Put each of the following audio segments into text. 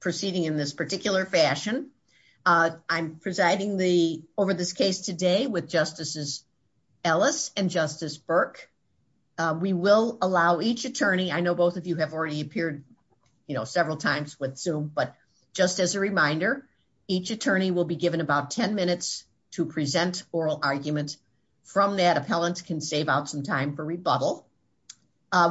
proceeding in this particular fashion. I'm presiding the over this case today with Justices Ellis and Justice Burke. We will allow each attorney, I know both of you have already appeared you know several times with Zoom, but just as a reminder each attorney will be given about 10 minutes to present oral argument. From that, appellants can save out some time for rebuttal.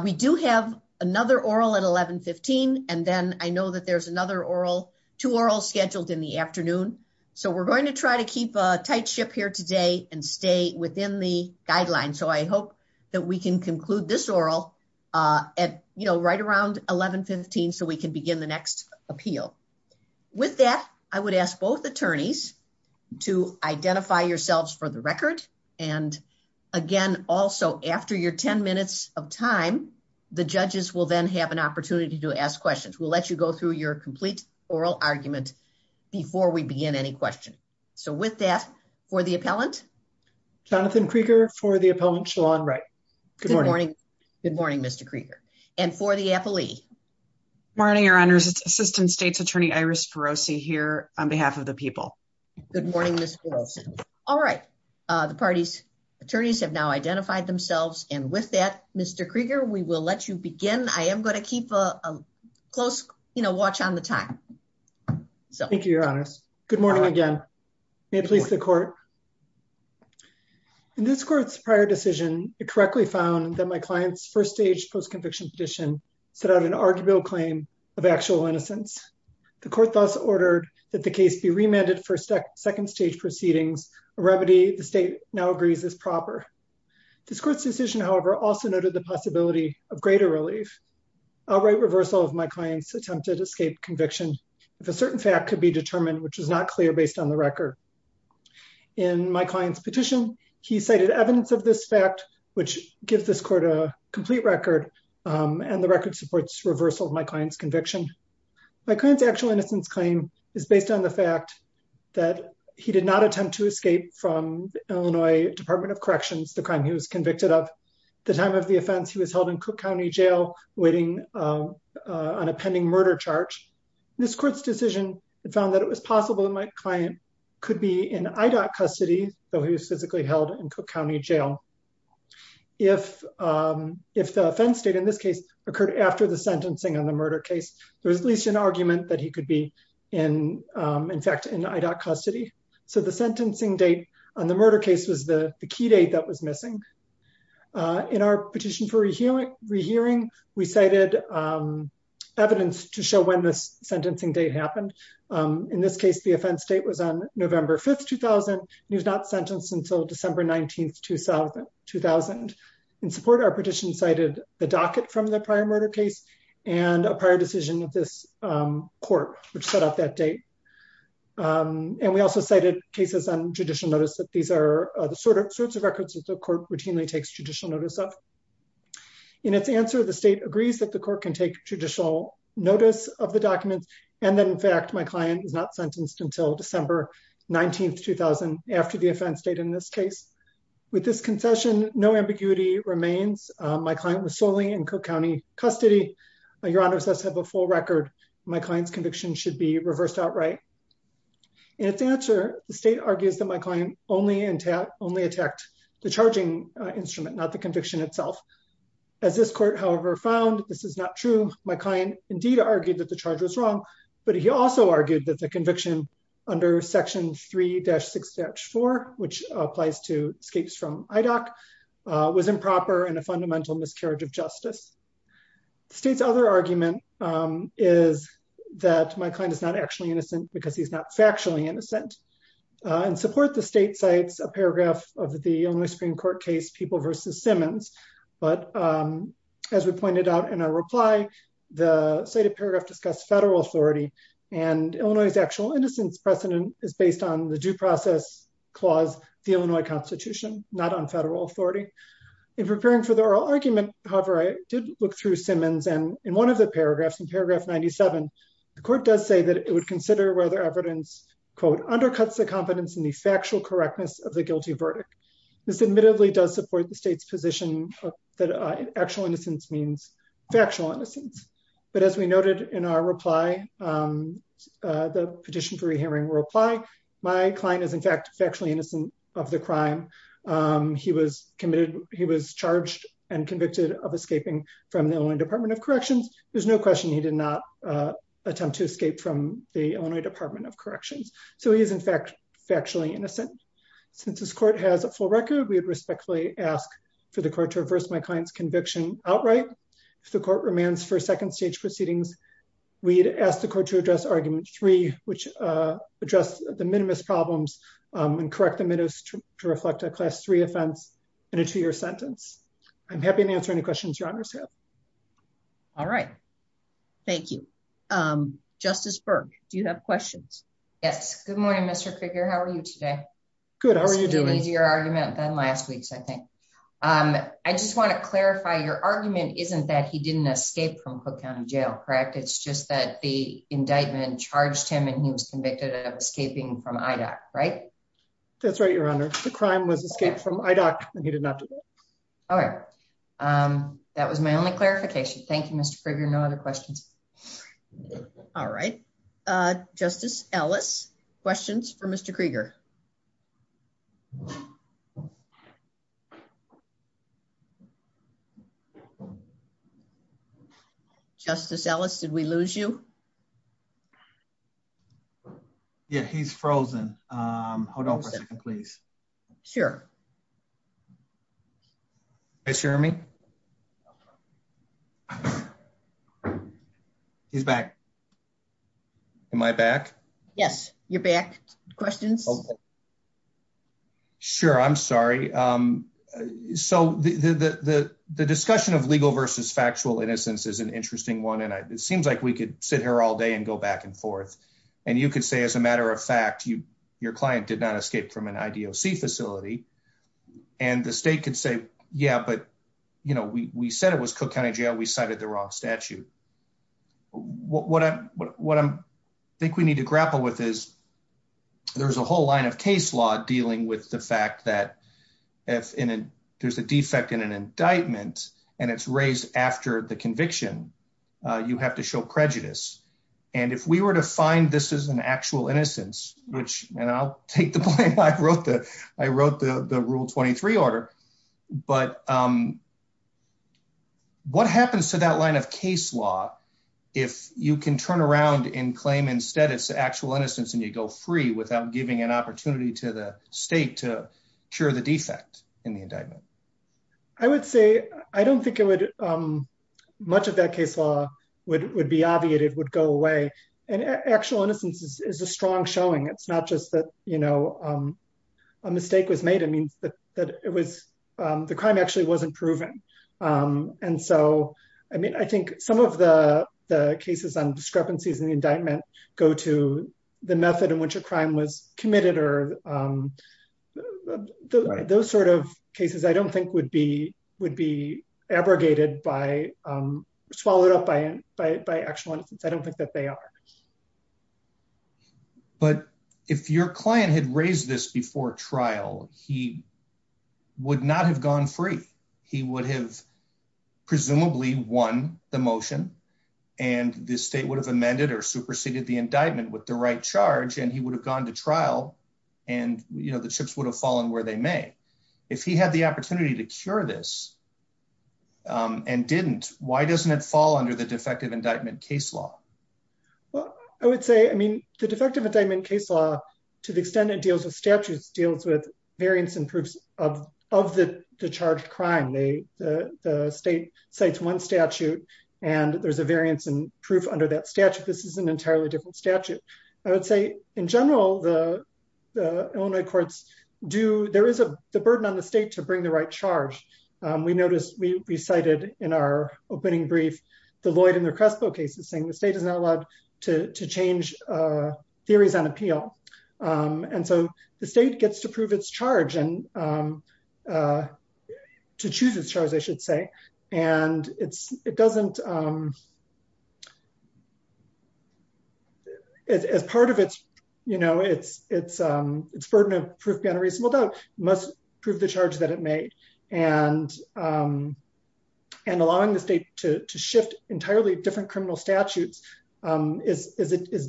We do have another oral at 11-15 and then I know that there's another oral, two orals scheduled in the afternoon. So we're going to try to keep a tight ship here today and stay within the guidelines. So I hope that we can conclude this oral at you know right around 11-15 so we can begin the next appeal. With that, I would ask both attorneys to identify yourselves for the record. And again, also after your 10 minutes of time, the judges will then have an opportunity to ask questions. We'll let you go through your complete oral argument before we begin any question. So with that, for the appellant. Jonathan Krieger for the appellant, Shalon Wright. Good morning. Good morning, Mr. Krieger. And for the appellee. Morning, your honors. It's Assistant State's Attorney Iris Ferozzi here on behalf of the people. Good morning, Ms. Ferozzi. All right. The attorneys have now identified themselves. And with that, Mr. Krieger, we will let you begin. I am going to keep a close, you know, watch on the time. Thank you, your honors. Good morning again. May it please the court. In this court's prior decision, it correctly found that my client's first stage post-conviction petition set out an arguable claim of actual innocence. The court thus ordered that the case be remanded for second stage proceedings, a remedy the state now agrees is proper. This court's decision, however, also noted the possibility of greater relief. Outright reversal of my client's attempted escaped conviction, if a certain fact could be determined, which is not clear based on the record. In my client's petition, he cited evidence of this fact, which gives this court a complete record. And the record supports reversal of my client's conviction. My client's actual innocence claim is based on the fact that he did not attempt to escape from Illinois Department of Corrections, the crime he was convicted of. The time of the offense, he was held in Cook County Jail, waiting on a pending murder charge. This court's decision found that it was possible that my client could be in IDOT custody, though he was physically held in Cook County Jail. If the offense state in this case occurred after the sentencing on the murder case, there's at least an In fact, in IDOT custody. So the sentencing date on the murder case was the key date that was missing. In our petition for rehearing, we cited evidence to show when this sentencing date happened. In this case, the offense date was on November 5, 2000, and he was not sentenced until December 19, 2000. In support, our petition cited the docket from the prior murder case, and a prior decision of this court, which set up that date. And we also cited cases on judicial notice that these are the sorts of records that the court routinely takes judicial notice of. In its answer, the state agrees that the court can take judicial notice of the documents, and that in fact, my client is not sentenced until December 19, 2000, after the offense date in this case. With this concession, no ambiguity remains. My client was solely in Cook County custody. Your Honor, does have a full record. My client's conviction should be reversed outright. In its answer, the state argues that my client only attacked the charging instrument, not the conviction itself. As this court, however, found this is not true. My client indeed argued that the charge was wrong. But he also argued that the conviction under Section 3-6-4, which applies to escapes from IDOC, was improper and a fundamental miscarriage of justice. The state's other argument is that my client is not actually innocent because he's not factually innocent. In support, the state cites a paragraph of the Illinois Supreme Court case, People v. Simmons. But as we pointed out in our reply, the cited paragraph discussed federal authority, and Illinois' actual innocence precedent is based on the due process clause, the Illinois Constitution, not on federal authority. In preparing for the oral argument, however, I did look through Simmons, and in one of the paragraphs, in paragraph 97, the court does say that it would consider whether evidence, quote, undercuts the competence in the factual correctness of the guilty verdict. This admittedly does support the state's position that actual innocence means factual innocence. But as we noted in our reply, the petition for re-hearing reply, my client is in fact factually innocent of the crime. He was charged and convicted of escaping from the Illinois Department of Corrections. There's no question he did not attempt to escape from the Illinois Department of Corrections. So he is in fact factually innocent. Since this court has a full record, we would respectfully ask for the court to reverse my client's conviction outright. If the court remands for second stage proceedings, we'd ask the court to address argument three, which addressed the minimus problems and correct the to reflect a class three offense in a two year sentence. I'm happy to answer any questions you understand. All right. Thank you. Um, Justice Berg, do you have questions? Yes. Good morning, Mr. figure. How are you today? Good. How are you doing easier argument than last week's? I think I just want to clarify your argument isn't that he didn't escape from Cook County Jail, correct? It's just that the indictment charged him and he was convicted of escaping from Ida, right? That's right, Your Honor. The crime was escaped from Ida and he did not do it. All right. Um, that was my only clarification. Thank you, Mr Krieger. No other questions. All right. Uh, Justice Ellis questions for Mr Krieger. Justice Ellis, did we lose you? Yeah, he's frozen. Um, hold on, please. Sure. Hi, Jeremy. He's back. Am I back? Yes. You're back. Questions. Sure. I'm sorry. Um, so the discussion of legal versus factual innocence is an interesting one. And it seems like we could sit here all day and go back and forth. And you could say, as a matter of fact, your client did not escape from an I. D. O. C. Facility. And the state could say, Yeah, but you know, we said it was Cook County Jail. We cited the wrong statute. What? What? What? I think we need to grapple with is there's a whole line of case law dealing with the fact that if there's a defect in an indictment and it's raised after the fine, this is an actual innocence, which I'll take the plane. I wrote the I wrote the Rule 23 order. But, um, what happens to that line of case law? If you can turn around and claim instead, it's actual innocence, and you go free without giving an opportunity to the state to cure the defect in the indictment. I would say I don't think it much of that case law would be obviated, would go away. And actual innocence is a strong showing. It's not just that, you know, a mistake was made. It means that it was the crime actually wasn't proven. And so, I mean, I think some of the cases on discrepancies in the indictment go to the method in which a crime was committed or, um, those sort of cases I don't think would be would be abrogated by, um, swallowed up by by actual innocence. I don't think that they are. But if your client had raised this before trial, he would not have gone free. He would have presumably won the motion, and the state would have amended or superseded the indictment with the right charge, and he would have gone to trial. And, you know, the chips would have fallen where they may. If he had the opportunity to cure this, um, and didn't, why doesn't it fall under the defective indictment case law? Well, I would say, I mean, the defective indictment case law, to the extent it deals with statues, deals with variance and proofs of of the charged crime. The state cites one statute, and there's a variance and proof under that statute. This is an entirely different statute. I would say, in general, the Illinois courts do. There is a burden on the state to bring the right charge. We noticed, we recited in our opening brief, the Lloyd and the Crespo cases, saying the state is not allowed to change theories on appeal. And so the state gets to prove its charge and to choose its charge, I should say. And it's, it doesn't, as part of its, you know, must prove the charge that it made. And, um, and allowing the state to shift entirely different criminal statutes, um, is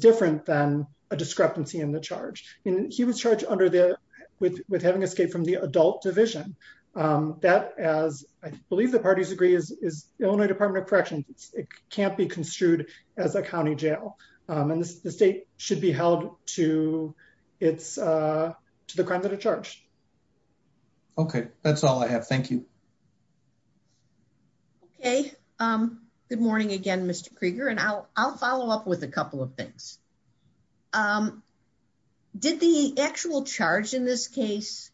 different than a discrepancy in the charge. And he was charged under the, with having escaped from the adult division. Um, that, as I believe the parties agree, is Illinois Department of Corrections. It can't be construed as a county jail. Um, and the state should be held to its, uh, to the crime that are charged. Okay, that's all I have. Thank you. Okay. Um, good morning again, Mr Krieger. And I'll I'll follow up with a couple of things. Um, did the actual charge in this case,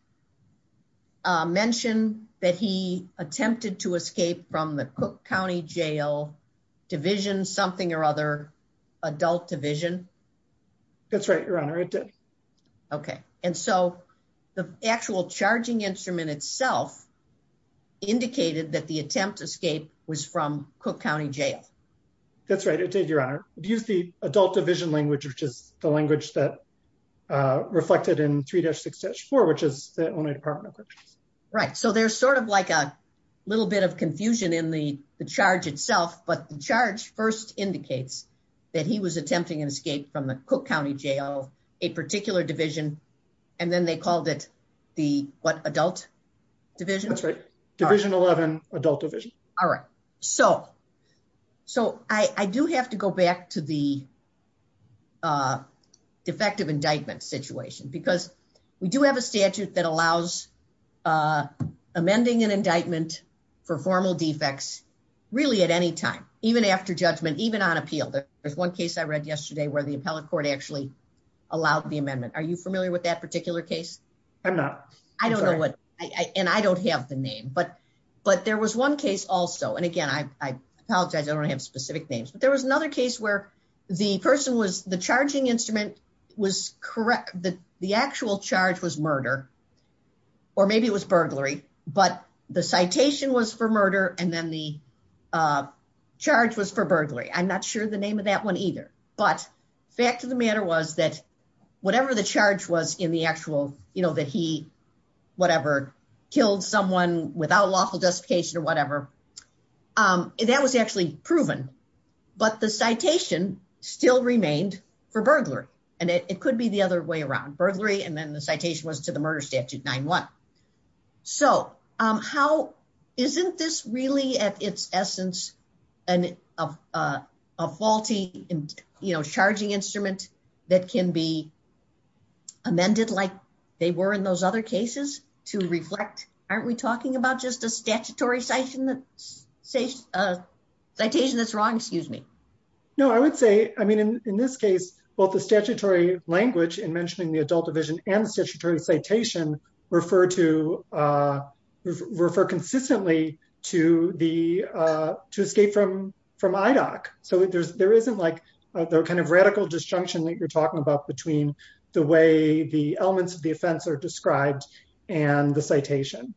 mentioned that he attempted to escape from the Cook County Jail Division something or other adult division? That's right, Your Honor. It did. Okay. And so the actual charging instrument itself indicated that the attempt to escape was from Cook County Jail. That's right. It did, Your Honor. Do you see adult division language, which is the language that, uh, reflected in 3-6-4, which is the Illinois Department of Corrections. Right. So there's sort of like a little bit of confusion in the charge itself. But the charge first indicates that he was attempting an escape from the Cook County Jail, a particular division. And then they called it the what? Adult division. That's right. Division 11 adult division. All right. So, so I do have to go back to the, uh, defective indictment situation because we do have a statute that allows, uh, amending an indictment for formal defects really at any time, even after judgment, even on appeal. There was one case I read yesterday where the appellate court actually allowed the amendment. Are you familiar with that particular case? I'm not. I don't know what I and I don't have the name, but, but there was one case also. And again, I apologize. I don't have specific names, but there was another case where the person was the charge was murder or maybe it was burglary, but the citation was for murder. And then the, uh, charge was for burglary. I'm not sure the name of that one either, but fact of the matter was that whatever the charge was in the actual, you know, that he, whatever killed someone without lawful justification or whatever, um, that was actually proven, but the citation still remained for burglary and it could be the other way around burglary. And then the citation was to the murder statute nine one. So, um, how isn't this really at its essence and, uh, uh, a faulty, you know, charging instrument that can be amended like they were in those other cases to reflect, aren't we talking about just a statutory citation that say, uh, citation that's wrong. Excuse me. No, I would say, I mean, in this case, both the statutory language and mentioning the adult division and the statutory citation refer to, uh, refer consistently to the, uh, to escape from, from IDOC. So there's, there isn't like the kind of radical disjunction that you're talking about between the way the elements of the offense are described and the citation.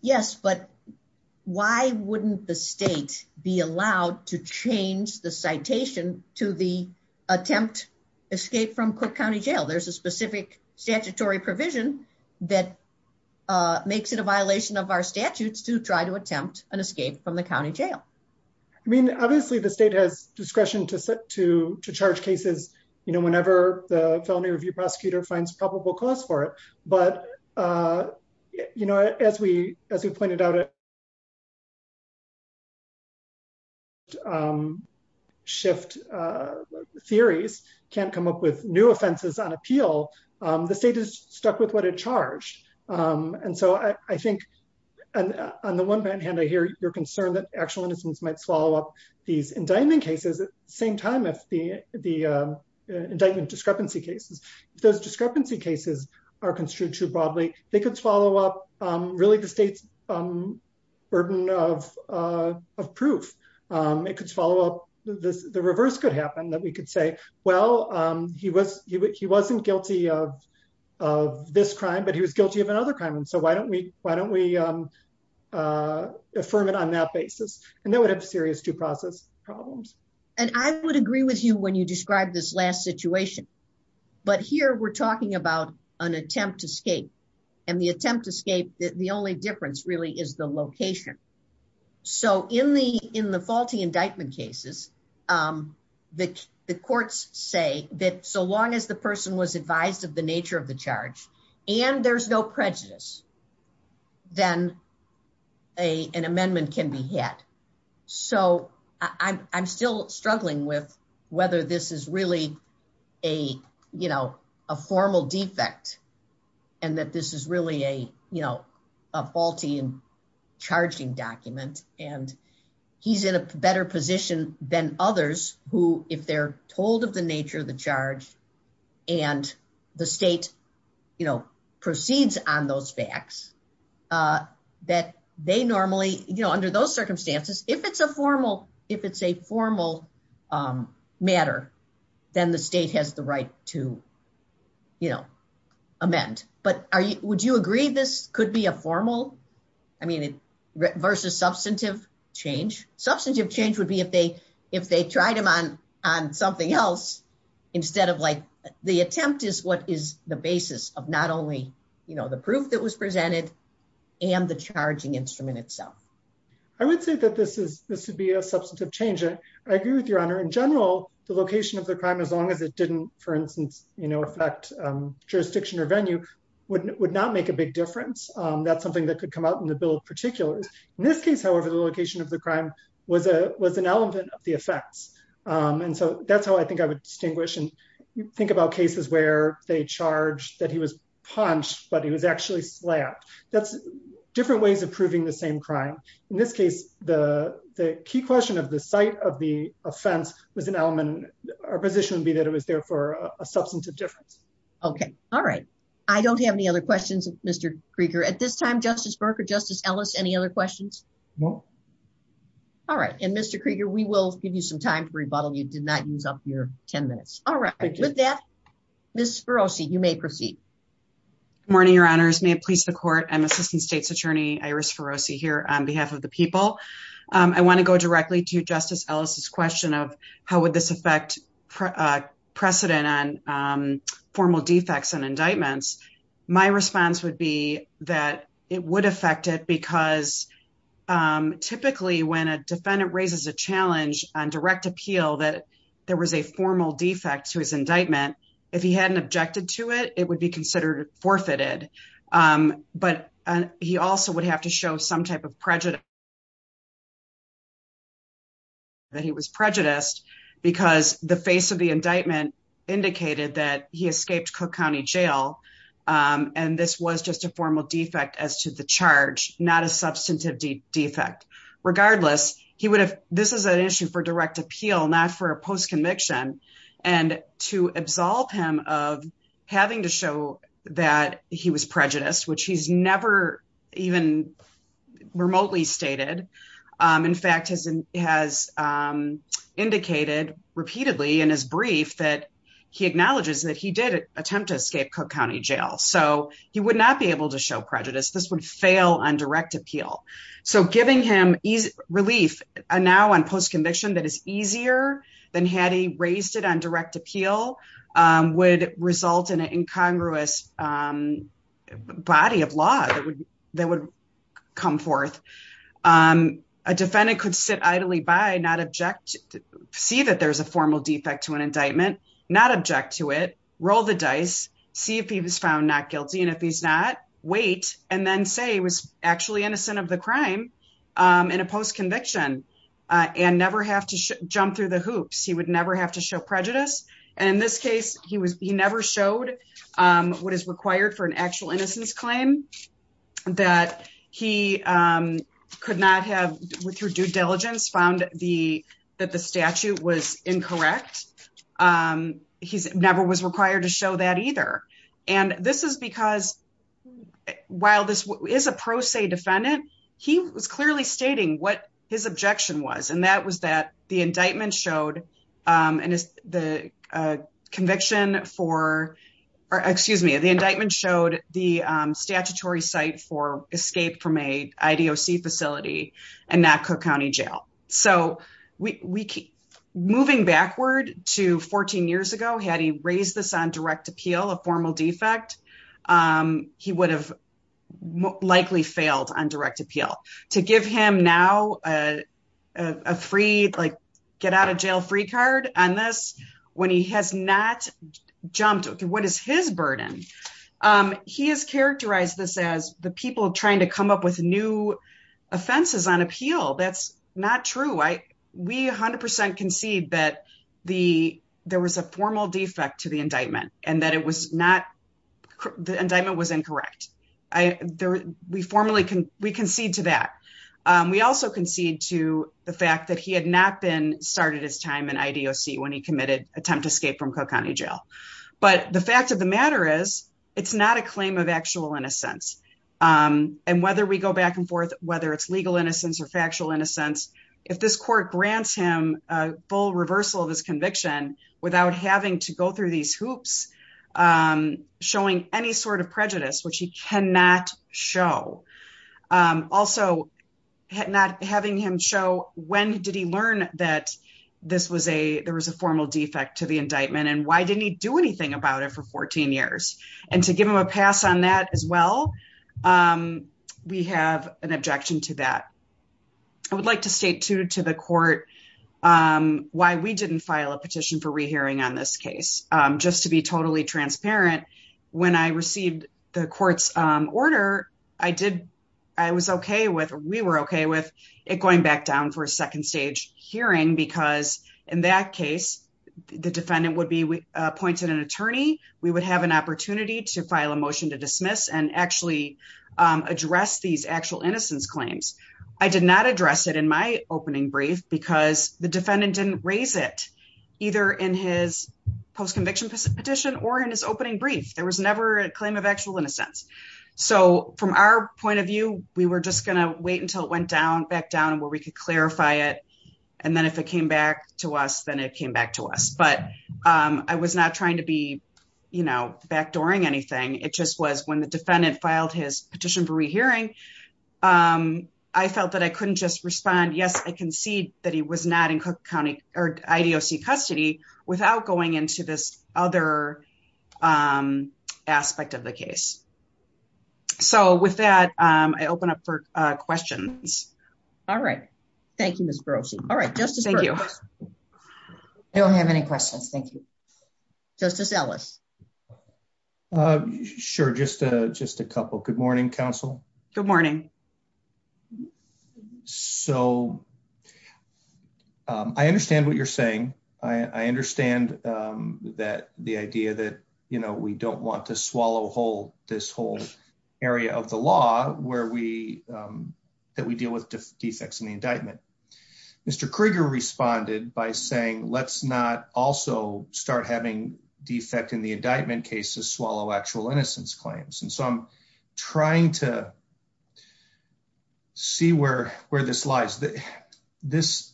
Yes. But why wouldn't the state be allowed to change the citation to the attempt escape from Cook County jail? There's a specific statutory provision that, uh, makes it a violation of our statutes to try to attempt an escape from the county jail. I mean, obviously the state has discretion to set to charge cases, you know, whenever the felony review prosecutor finds probable cause for it. But, uh, you know, as we, as we pointed out, um, shift, uh, theories can't come up with new offenses on appeal. Um, the state is stuck with what it charged. Um, and so I, I think on the one hand, I hear your concern that actual innocence might swallow up these indictment cases at the same time, if the, the, uh, indictment discrepancy cases, if those true too broadly, they could swallow up, um, really the state's, um, burden of, uh, of proof. Um, it could follow up the reverse could happen that we could say, well, um, he was, he wasn't guilty of, of this crime, but he was guilty of another crime. And so why don't we, why don't we, um, uh, affirm it on that basis? And that would have serious due process problems. And I would agree with you when you describe this last situation, but here we're escape and the attempt escape. The only difference really is the location. So in the, in the faulty indictment cases, um, the, the courts say that so long as the person was advised of the nature of the charge and there's no prejudice, then a, an amendment can be hit. So I'm still struggling with whether this is a, you know, a formal defect and that this is really a, you know, a faulty and charging document. And he's in a better position than others who, if they're told of the nature of the charge and the state, you know, proceeds on those facts, uh, that they normally, you know, under those circumstances, if it's a formal, if it's a formal, um, matter, then the state has the right to, you know, amend, but are you, would you agree this could be a formal, I mean, it versus substantive change, substantive change would be if they, if they tried them on, on something else, instead of like the attempt is what is the basis of not only, you know, the proof that was presented and the substantive change. I agree with your honor. In general, the location of the crime, as long as it didn't, for instance, you know, affect, um, jurisdiction or venue would not make a big difference. Um, that's something that could come out in the bill of particulars. In this case, however, the location of the crime was a, was an element of the effects. Um, and so that's how I think I would distinguish and think about cases where they charge that he was punched, but he was actually slapped. That's different ways of the key question of the site of the offense was an element. Our position would be that it was there for a substantive difference. Okay. All right. I don't have any other questions. Mr Krieger at this time, justice Burke or justice Ellis. Any other questions? No. All right. And mr Krieger, we will give you some time to rebuttal. You did not use up your 10 minutes. All right. With that, this ferocity, you may proceed morning. Your honors may please the court. I'm assistant state's attorney iris ferocity here on behalf of the people. Um, I want to go directly to justice Ellis's question of how would this affect precedent on, um, formal defects and indictments. My response would be that it would affect it because, um, typically when a defendant raises a challenge on direct appeal that there was a formal defect to his indictment, if he hadn't objected to it, would be considered forfeited. Um, but he also would have to show some type of prejudice that he was prejudiced because the face of the indictment indicated that he escaped Cook County Jail. Um, and this was just a formal defect as to the charge, not a substantive defect. Regardless, he would have. This is an issue for direct appeal, not for a post conviction and to absolve him of having to show that he was prejudiced, which he's never even remotely stated. Um, in fact, has has, um, indicated repeatedly in his brief that he acknowledges that he did attempt to escape Cook County Jail, so he would not be able to show prejudice. This would fail on direct appeal. So giving him relief now on post conviction that is easier than had he raised it on Congress. Um, body of law that would come forth. Um, a defendant could sit idly by not object, see that there's a formal defect to an indictment, not object to it, roll the dice, see if he was found not guilty. And if he's not wait and then say he was actually innocent of the crime. Um, in a post conviction, uh, and never have to jump through the hoops. He would never have to show prejudice. And in this case, he was he never showed, um, what is required for an actual innocence claim that he, um, could not have with your due diligence found the that the statute was incorrect. Um, he's never was required to show that either. And this is because while this is a pro se defendant, he was clearly stating what his objection was. And that was that the the conviction for excuse me, the indictment showed the statutory site for escape from a I. D. O. C. Facility and not Cook County Jail. So we keep moving backward to 14 years ago. Had he raised this on direct appeal, a formal defect, um, he would have likely failed on direct appeal to give him now, uh, a free, like, get out of jail free card on this when he has not jumped. What is his burden? Um, he has characterized this as the people trying to come up with new offenses on appeal. That's not true. I we 100% concede that the there was a formal defect to the indictment and that it was not. The indictment was incorrect. We formally we concede to that. We also concede to the fact that he had not been started his time in I. D. O. C. When he committed attempt escape from Cook County Jail. But the fact of the matter is, it's not a claim of actual innocence. Um, and whether we go back and forth, whether it's legal innocence or factual innocence, if this court grants him a full reversal of his conviction without having to go through these hoops, um, showing any sort of learn that this was a there was a formal defect to the indictment. And why didn't he do anything about it for 14 years and to give him a pass on that as well? Um, we have an objection to that. I would like to state to to the court, um, why we didn't file a petition for rehearing on this case. Um, just to be totally transparent. When I received the court's order, I did. I was okay with we were okay with it going back down for a second stage hearing because in that case, the defendant would be appointed an attorney. We would have an opportunity to file a motion to dismiss and actually address these actual innocence claims. I did not address it in my opening brief because the defendant didn't raise it either in his post conviction petition or in his opening brief. There was never a claim of actual innocence. So from our point of view, we were just gonna wait until it went down back down where we could clarify it. And then if it came back to us, then it came back to us. But, um, I was not trying to be, you know, backdooring anything. It just was when the defendant filed his petition for rehearing. Um, I felt that I couldn't just respond. Yes, I concede that he was not in Cook County or idoc custody without going into this other, um, aspect of the case. So with that, um, I open up for questions. All right. Thank you, Miss Gross. All right, Justice. Thank you. I don't have any questions. Thank you, Justice Ellis. Uh, sure. Just a just a couple. Good morning, Counsel. Good morning. So, I understand what you're saying. I understand, um, that the idea that, you know, we don't want to swallow whole this whole area of the law where we, um, that we deal with defects in the indictment. Mr Krieger responded by saying, Let's not also start having defect in the indictment cases, swallow actual innocence claims. And so I'm trying to see where where this lies. This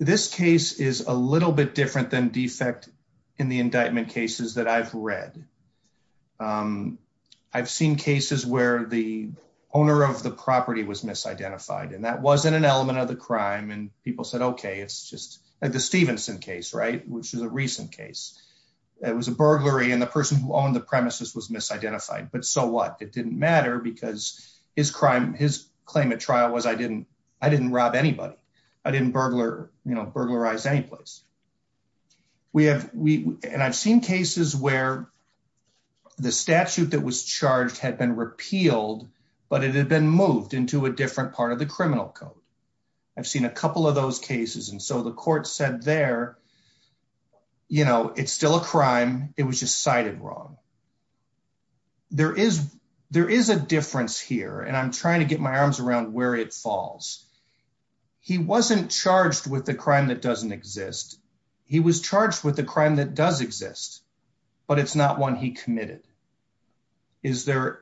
this case is a little bit different than defect in the indictment cases that I've read. Um, I've seen cases where the owner of the property was misidentified, and that wasn't an element of the crime. And people said, Okay, it's just like the Stevenson case, right? Which is a recent case. It was a burglary, and the person who owned the premises was misidentified. But so what? It didn't matter because his crime, his claim at trial was I didn't. I didn't rob anybody. I didn't burglar, you know, burglarize any place we have. And I've seen cases where the statute that was charged had been repealed, but it had been moved into a different part of the criminal code. I've seen a couple of those cases, and so the court said there, you know, it's still a crime. It was just cited wrong. There is. There is a difference here, and I'm trying to get my arms around where it falls. He wasn't charged with the crime that doesn't exist. He was charged with the crime that does exist, but it's not one he committed. Is there?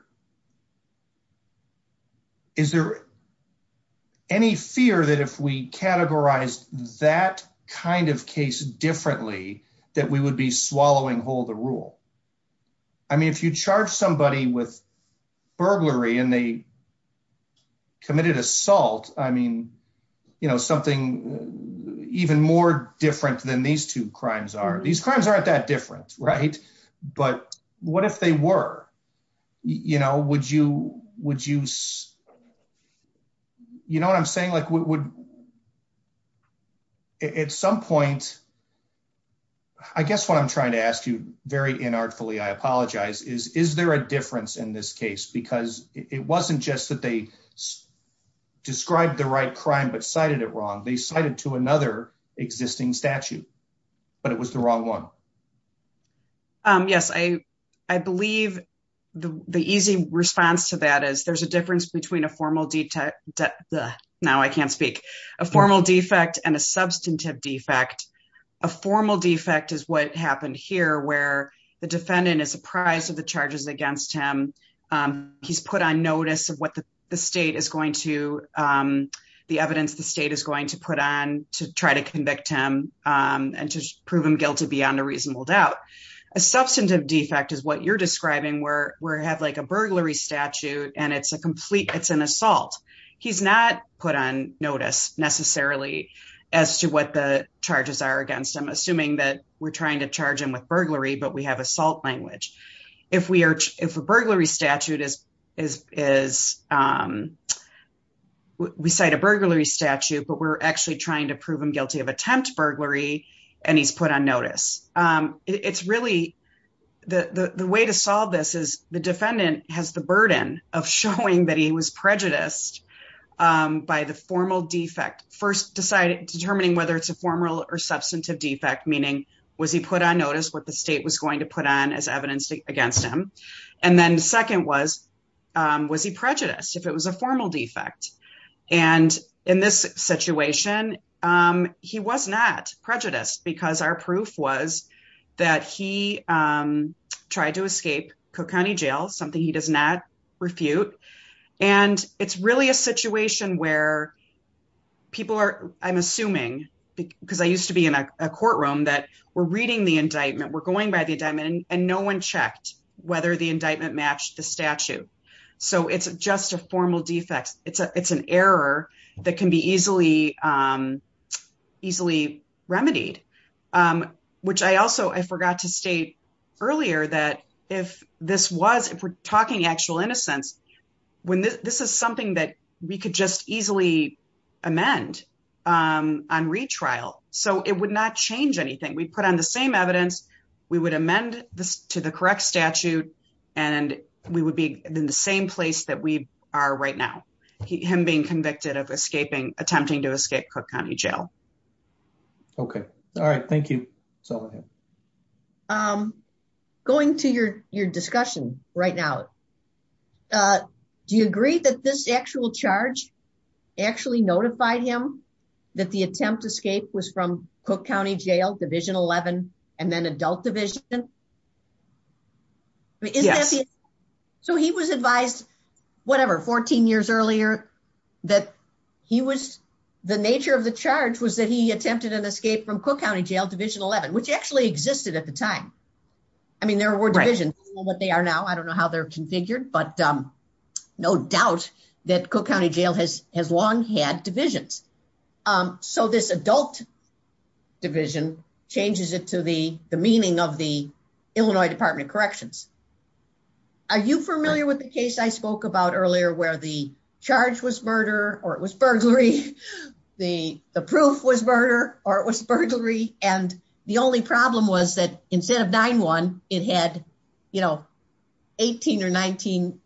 Is there any fear that if we categorized that kind of case differently that we would be swallowing hold the rule? I mean, if you charge somebody with burglary and they committed assault, I mean, you know something even more different than these two crimes are. These crimes aren't that different, right? But what if they were, you know, would you would use you know what I'm saying? Like, would at some point, I guess what I'm trying to ask you very in artfully, I apologize. Is is there a difference in this case? Because it wasn't just that they described the right crime but cited it wrong. They cited to another existing statute, but it was the wrong one. Yes, I believe the easy response to that is there's a difference between a formal detail that now I can't speak a formal defect and a substantive defect. A formal defect is what happened here, where the defendant is apprised of the charges against him. Um, he's put on notice of what the state is going to, um, the evidence the state is going to put on to try to convict him, um, and to prove him guilty beyond a reasonable doubt. A substantive defect is what you're describing where we're have like a assault. He's not put on notice necessarily as to what the charges are against him, assuming that we're trying to charge him with burglary. But we have assault language. If we are, if a burglary statute is, is, is, um, we cite a burglary statute, but we're actually trying to prove him guilty of attempt burglary. And he's put on notice. Um, it's really the way to the burden of showing that he was prejudiced, um, by the formal defect first decided determining whether it's a formal or substantive defect, meaning was he put on notice what the state was going to put on as evidence against him? And then the second was, um, was he prejudiced if it was a formal defect? And in this situation, um, he was not prejudiced because our refute and it's really a situation where people are, I'm assuming because I used to be in a courtroom that we're reading the indictment, we're going by the diamond and no one checked whether the indictment matched the statute. So it's just a formal defect. It's a, it's an error that can be easily, um, easily remedied. Um, which I also, I forgot to state earlier that if this was, if we're talking actual innocence, when this is something that we could just easily amend, um, on retrial, so it would not change anything. We put on the same evidence, we would amend this to the correct statute and we would be in the same place that we are right now. Him being convicted of escaping, attempting to escape Cook County Jail. Okay. All right. Thank you. So, um, going to your, your discussion, right now, uh, do you agree that this actual charge actually notified him that the attempt to escape was from Cook County Jail, division 11 and then adult division? So he was advised, whatever, 14 years earlier that he was, the nature of the charge was that he attempted an escape from Cook County Jail, division 11, which actually existed at the time. I mean, there were divisions. I don't know what they are now. I don't know how they're configured, but, um, no doubt that Cook County Jail has, has long had divisions. Um, so this adult division changes it to the, the meaning of the Illinois Department of Corrections. Are you familiar with the case I spoke about earlier where the charge was murder or it was burglary? The, the proof was murder or it was burglary. And the only problem was that instead of 9-1, it had, you know, 18 or 19-1.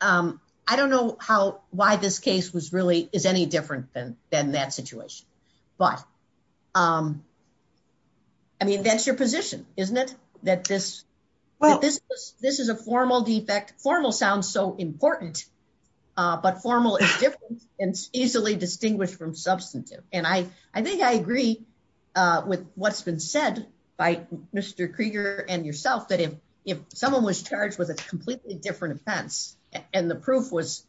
Um, I don't know how, why this case was really, is any different than, than that situation. But, um, I mean, that's your position, isn't it? That this, this is a formal defect. Formal sounds so important, uh, but formal is different and easily distinguished from substantive. And I, I think I agree, uh, with what's been said by Mr. Krieger and yourself, that if, if someone was charged with a completely different offense and the proof was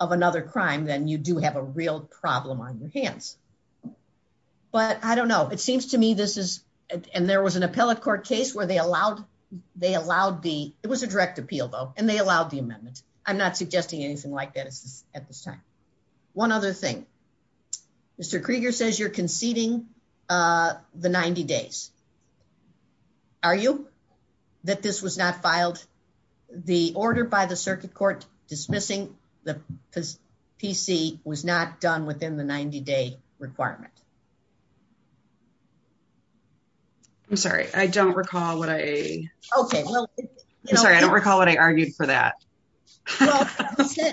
of another crime, then you do have a real problem on your hands. But I don't know. It seems to me this is, and there was an appellate court case where they allowed, they allowed the, it was a direct appeal though, and they allowed the amendment. I'm not suggesting anything like that at this time. One other thing, Mr. Krieger says you're conceding, uh, the 90 days. Are you? That this was not filed? The order by the circuit court dismissing the PC was not done within the 90 day requirement. I'm sorry. I don't recall what I, I'm sorry. I don't recall what I argued for that. Well,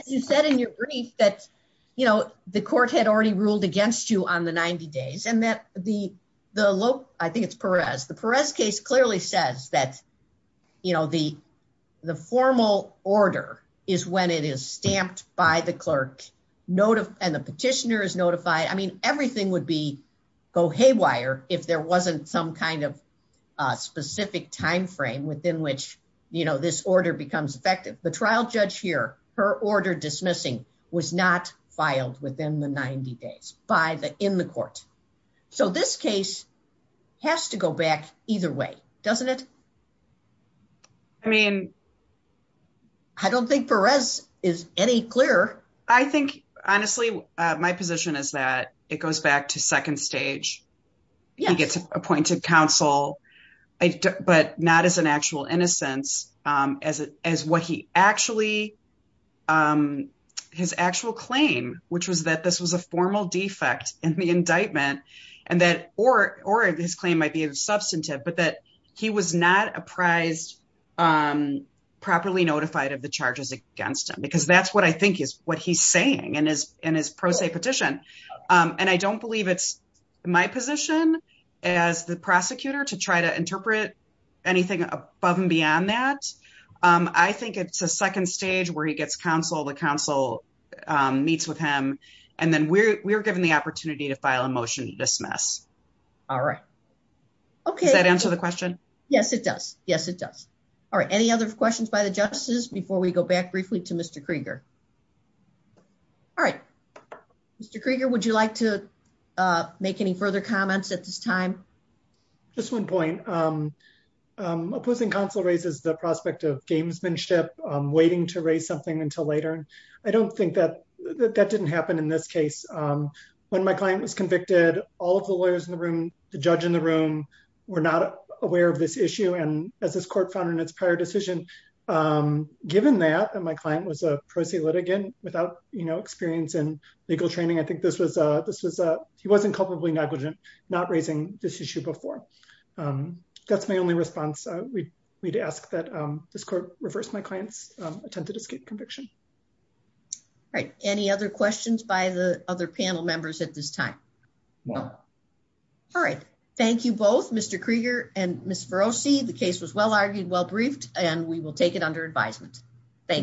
you said in your brief that, you know, the court had already ruled against you on the 90 days and that the, the low, I think it's Perez. The Perez case clearly says that, you know, the, the formal order is when it is stamped by the clerk note of, and the petitioner is notified. I mean, everything would be go haywire if there wasn't some kind of, uh, specific timeframe within which, you know, this order becomes effective. The trial judge here, her order dismissing was not filed within the 90 days by the, in the court. So this case has to go back either way, doesn't it? I mean, I don't think Perez is any clearer. I think honestly, uh, my position is that it goes back to not as an actual innocence, um, as, as what he actually, um, his actual claim, which was that this was a formal defect in the indictment and that, or, or his claim might be a substantive, but that he was not apprised, um, properly notified of the charges against him, because that's what I think is what he's saying and is in his pro se petition. Um, and I don't believe it's my position as the prosecutor to try to interpret anything above and beyond that. Um, I think it's a second stage where he gets counsel, the council meets with him and then we're, we're given the opportunity to file a motion to dismiss. All right. Okay. Does that answer the question? Yes, it does. Yes, it does. All right. Any other questions by the justice before we go back briefly to Mr Krieger? All right. Mr Krieger, would you like to, uh, make any further comments at this time? Just one point. Um, um, opposing counsel raises the prospect of gamesmanship waiting to raise something until later. I don't think that that didn't happen in this case. Um, when my client was convicted, all of the lawyers in the room, the judge in the room were not aware of this issue. And as this court found in its prior decision, um, given that my client was a pro se litigant without, you know, experience and legal training. I think this was, uh, this was, uh, he wasn't culpably negligent, not raising this issue before. Um, that's my only response. We need to ask that this court reverse my client's attempted escape conviction. Right. Any other questions by the other panel members at this time? No. All right. Thank you both. Mr Krieger and Miss Feroci. The case was well argued, well briefed, and we will take it under advisement. Thank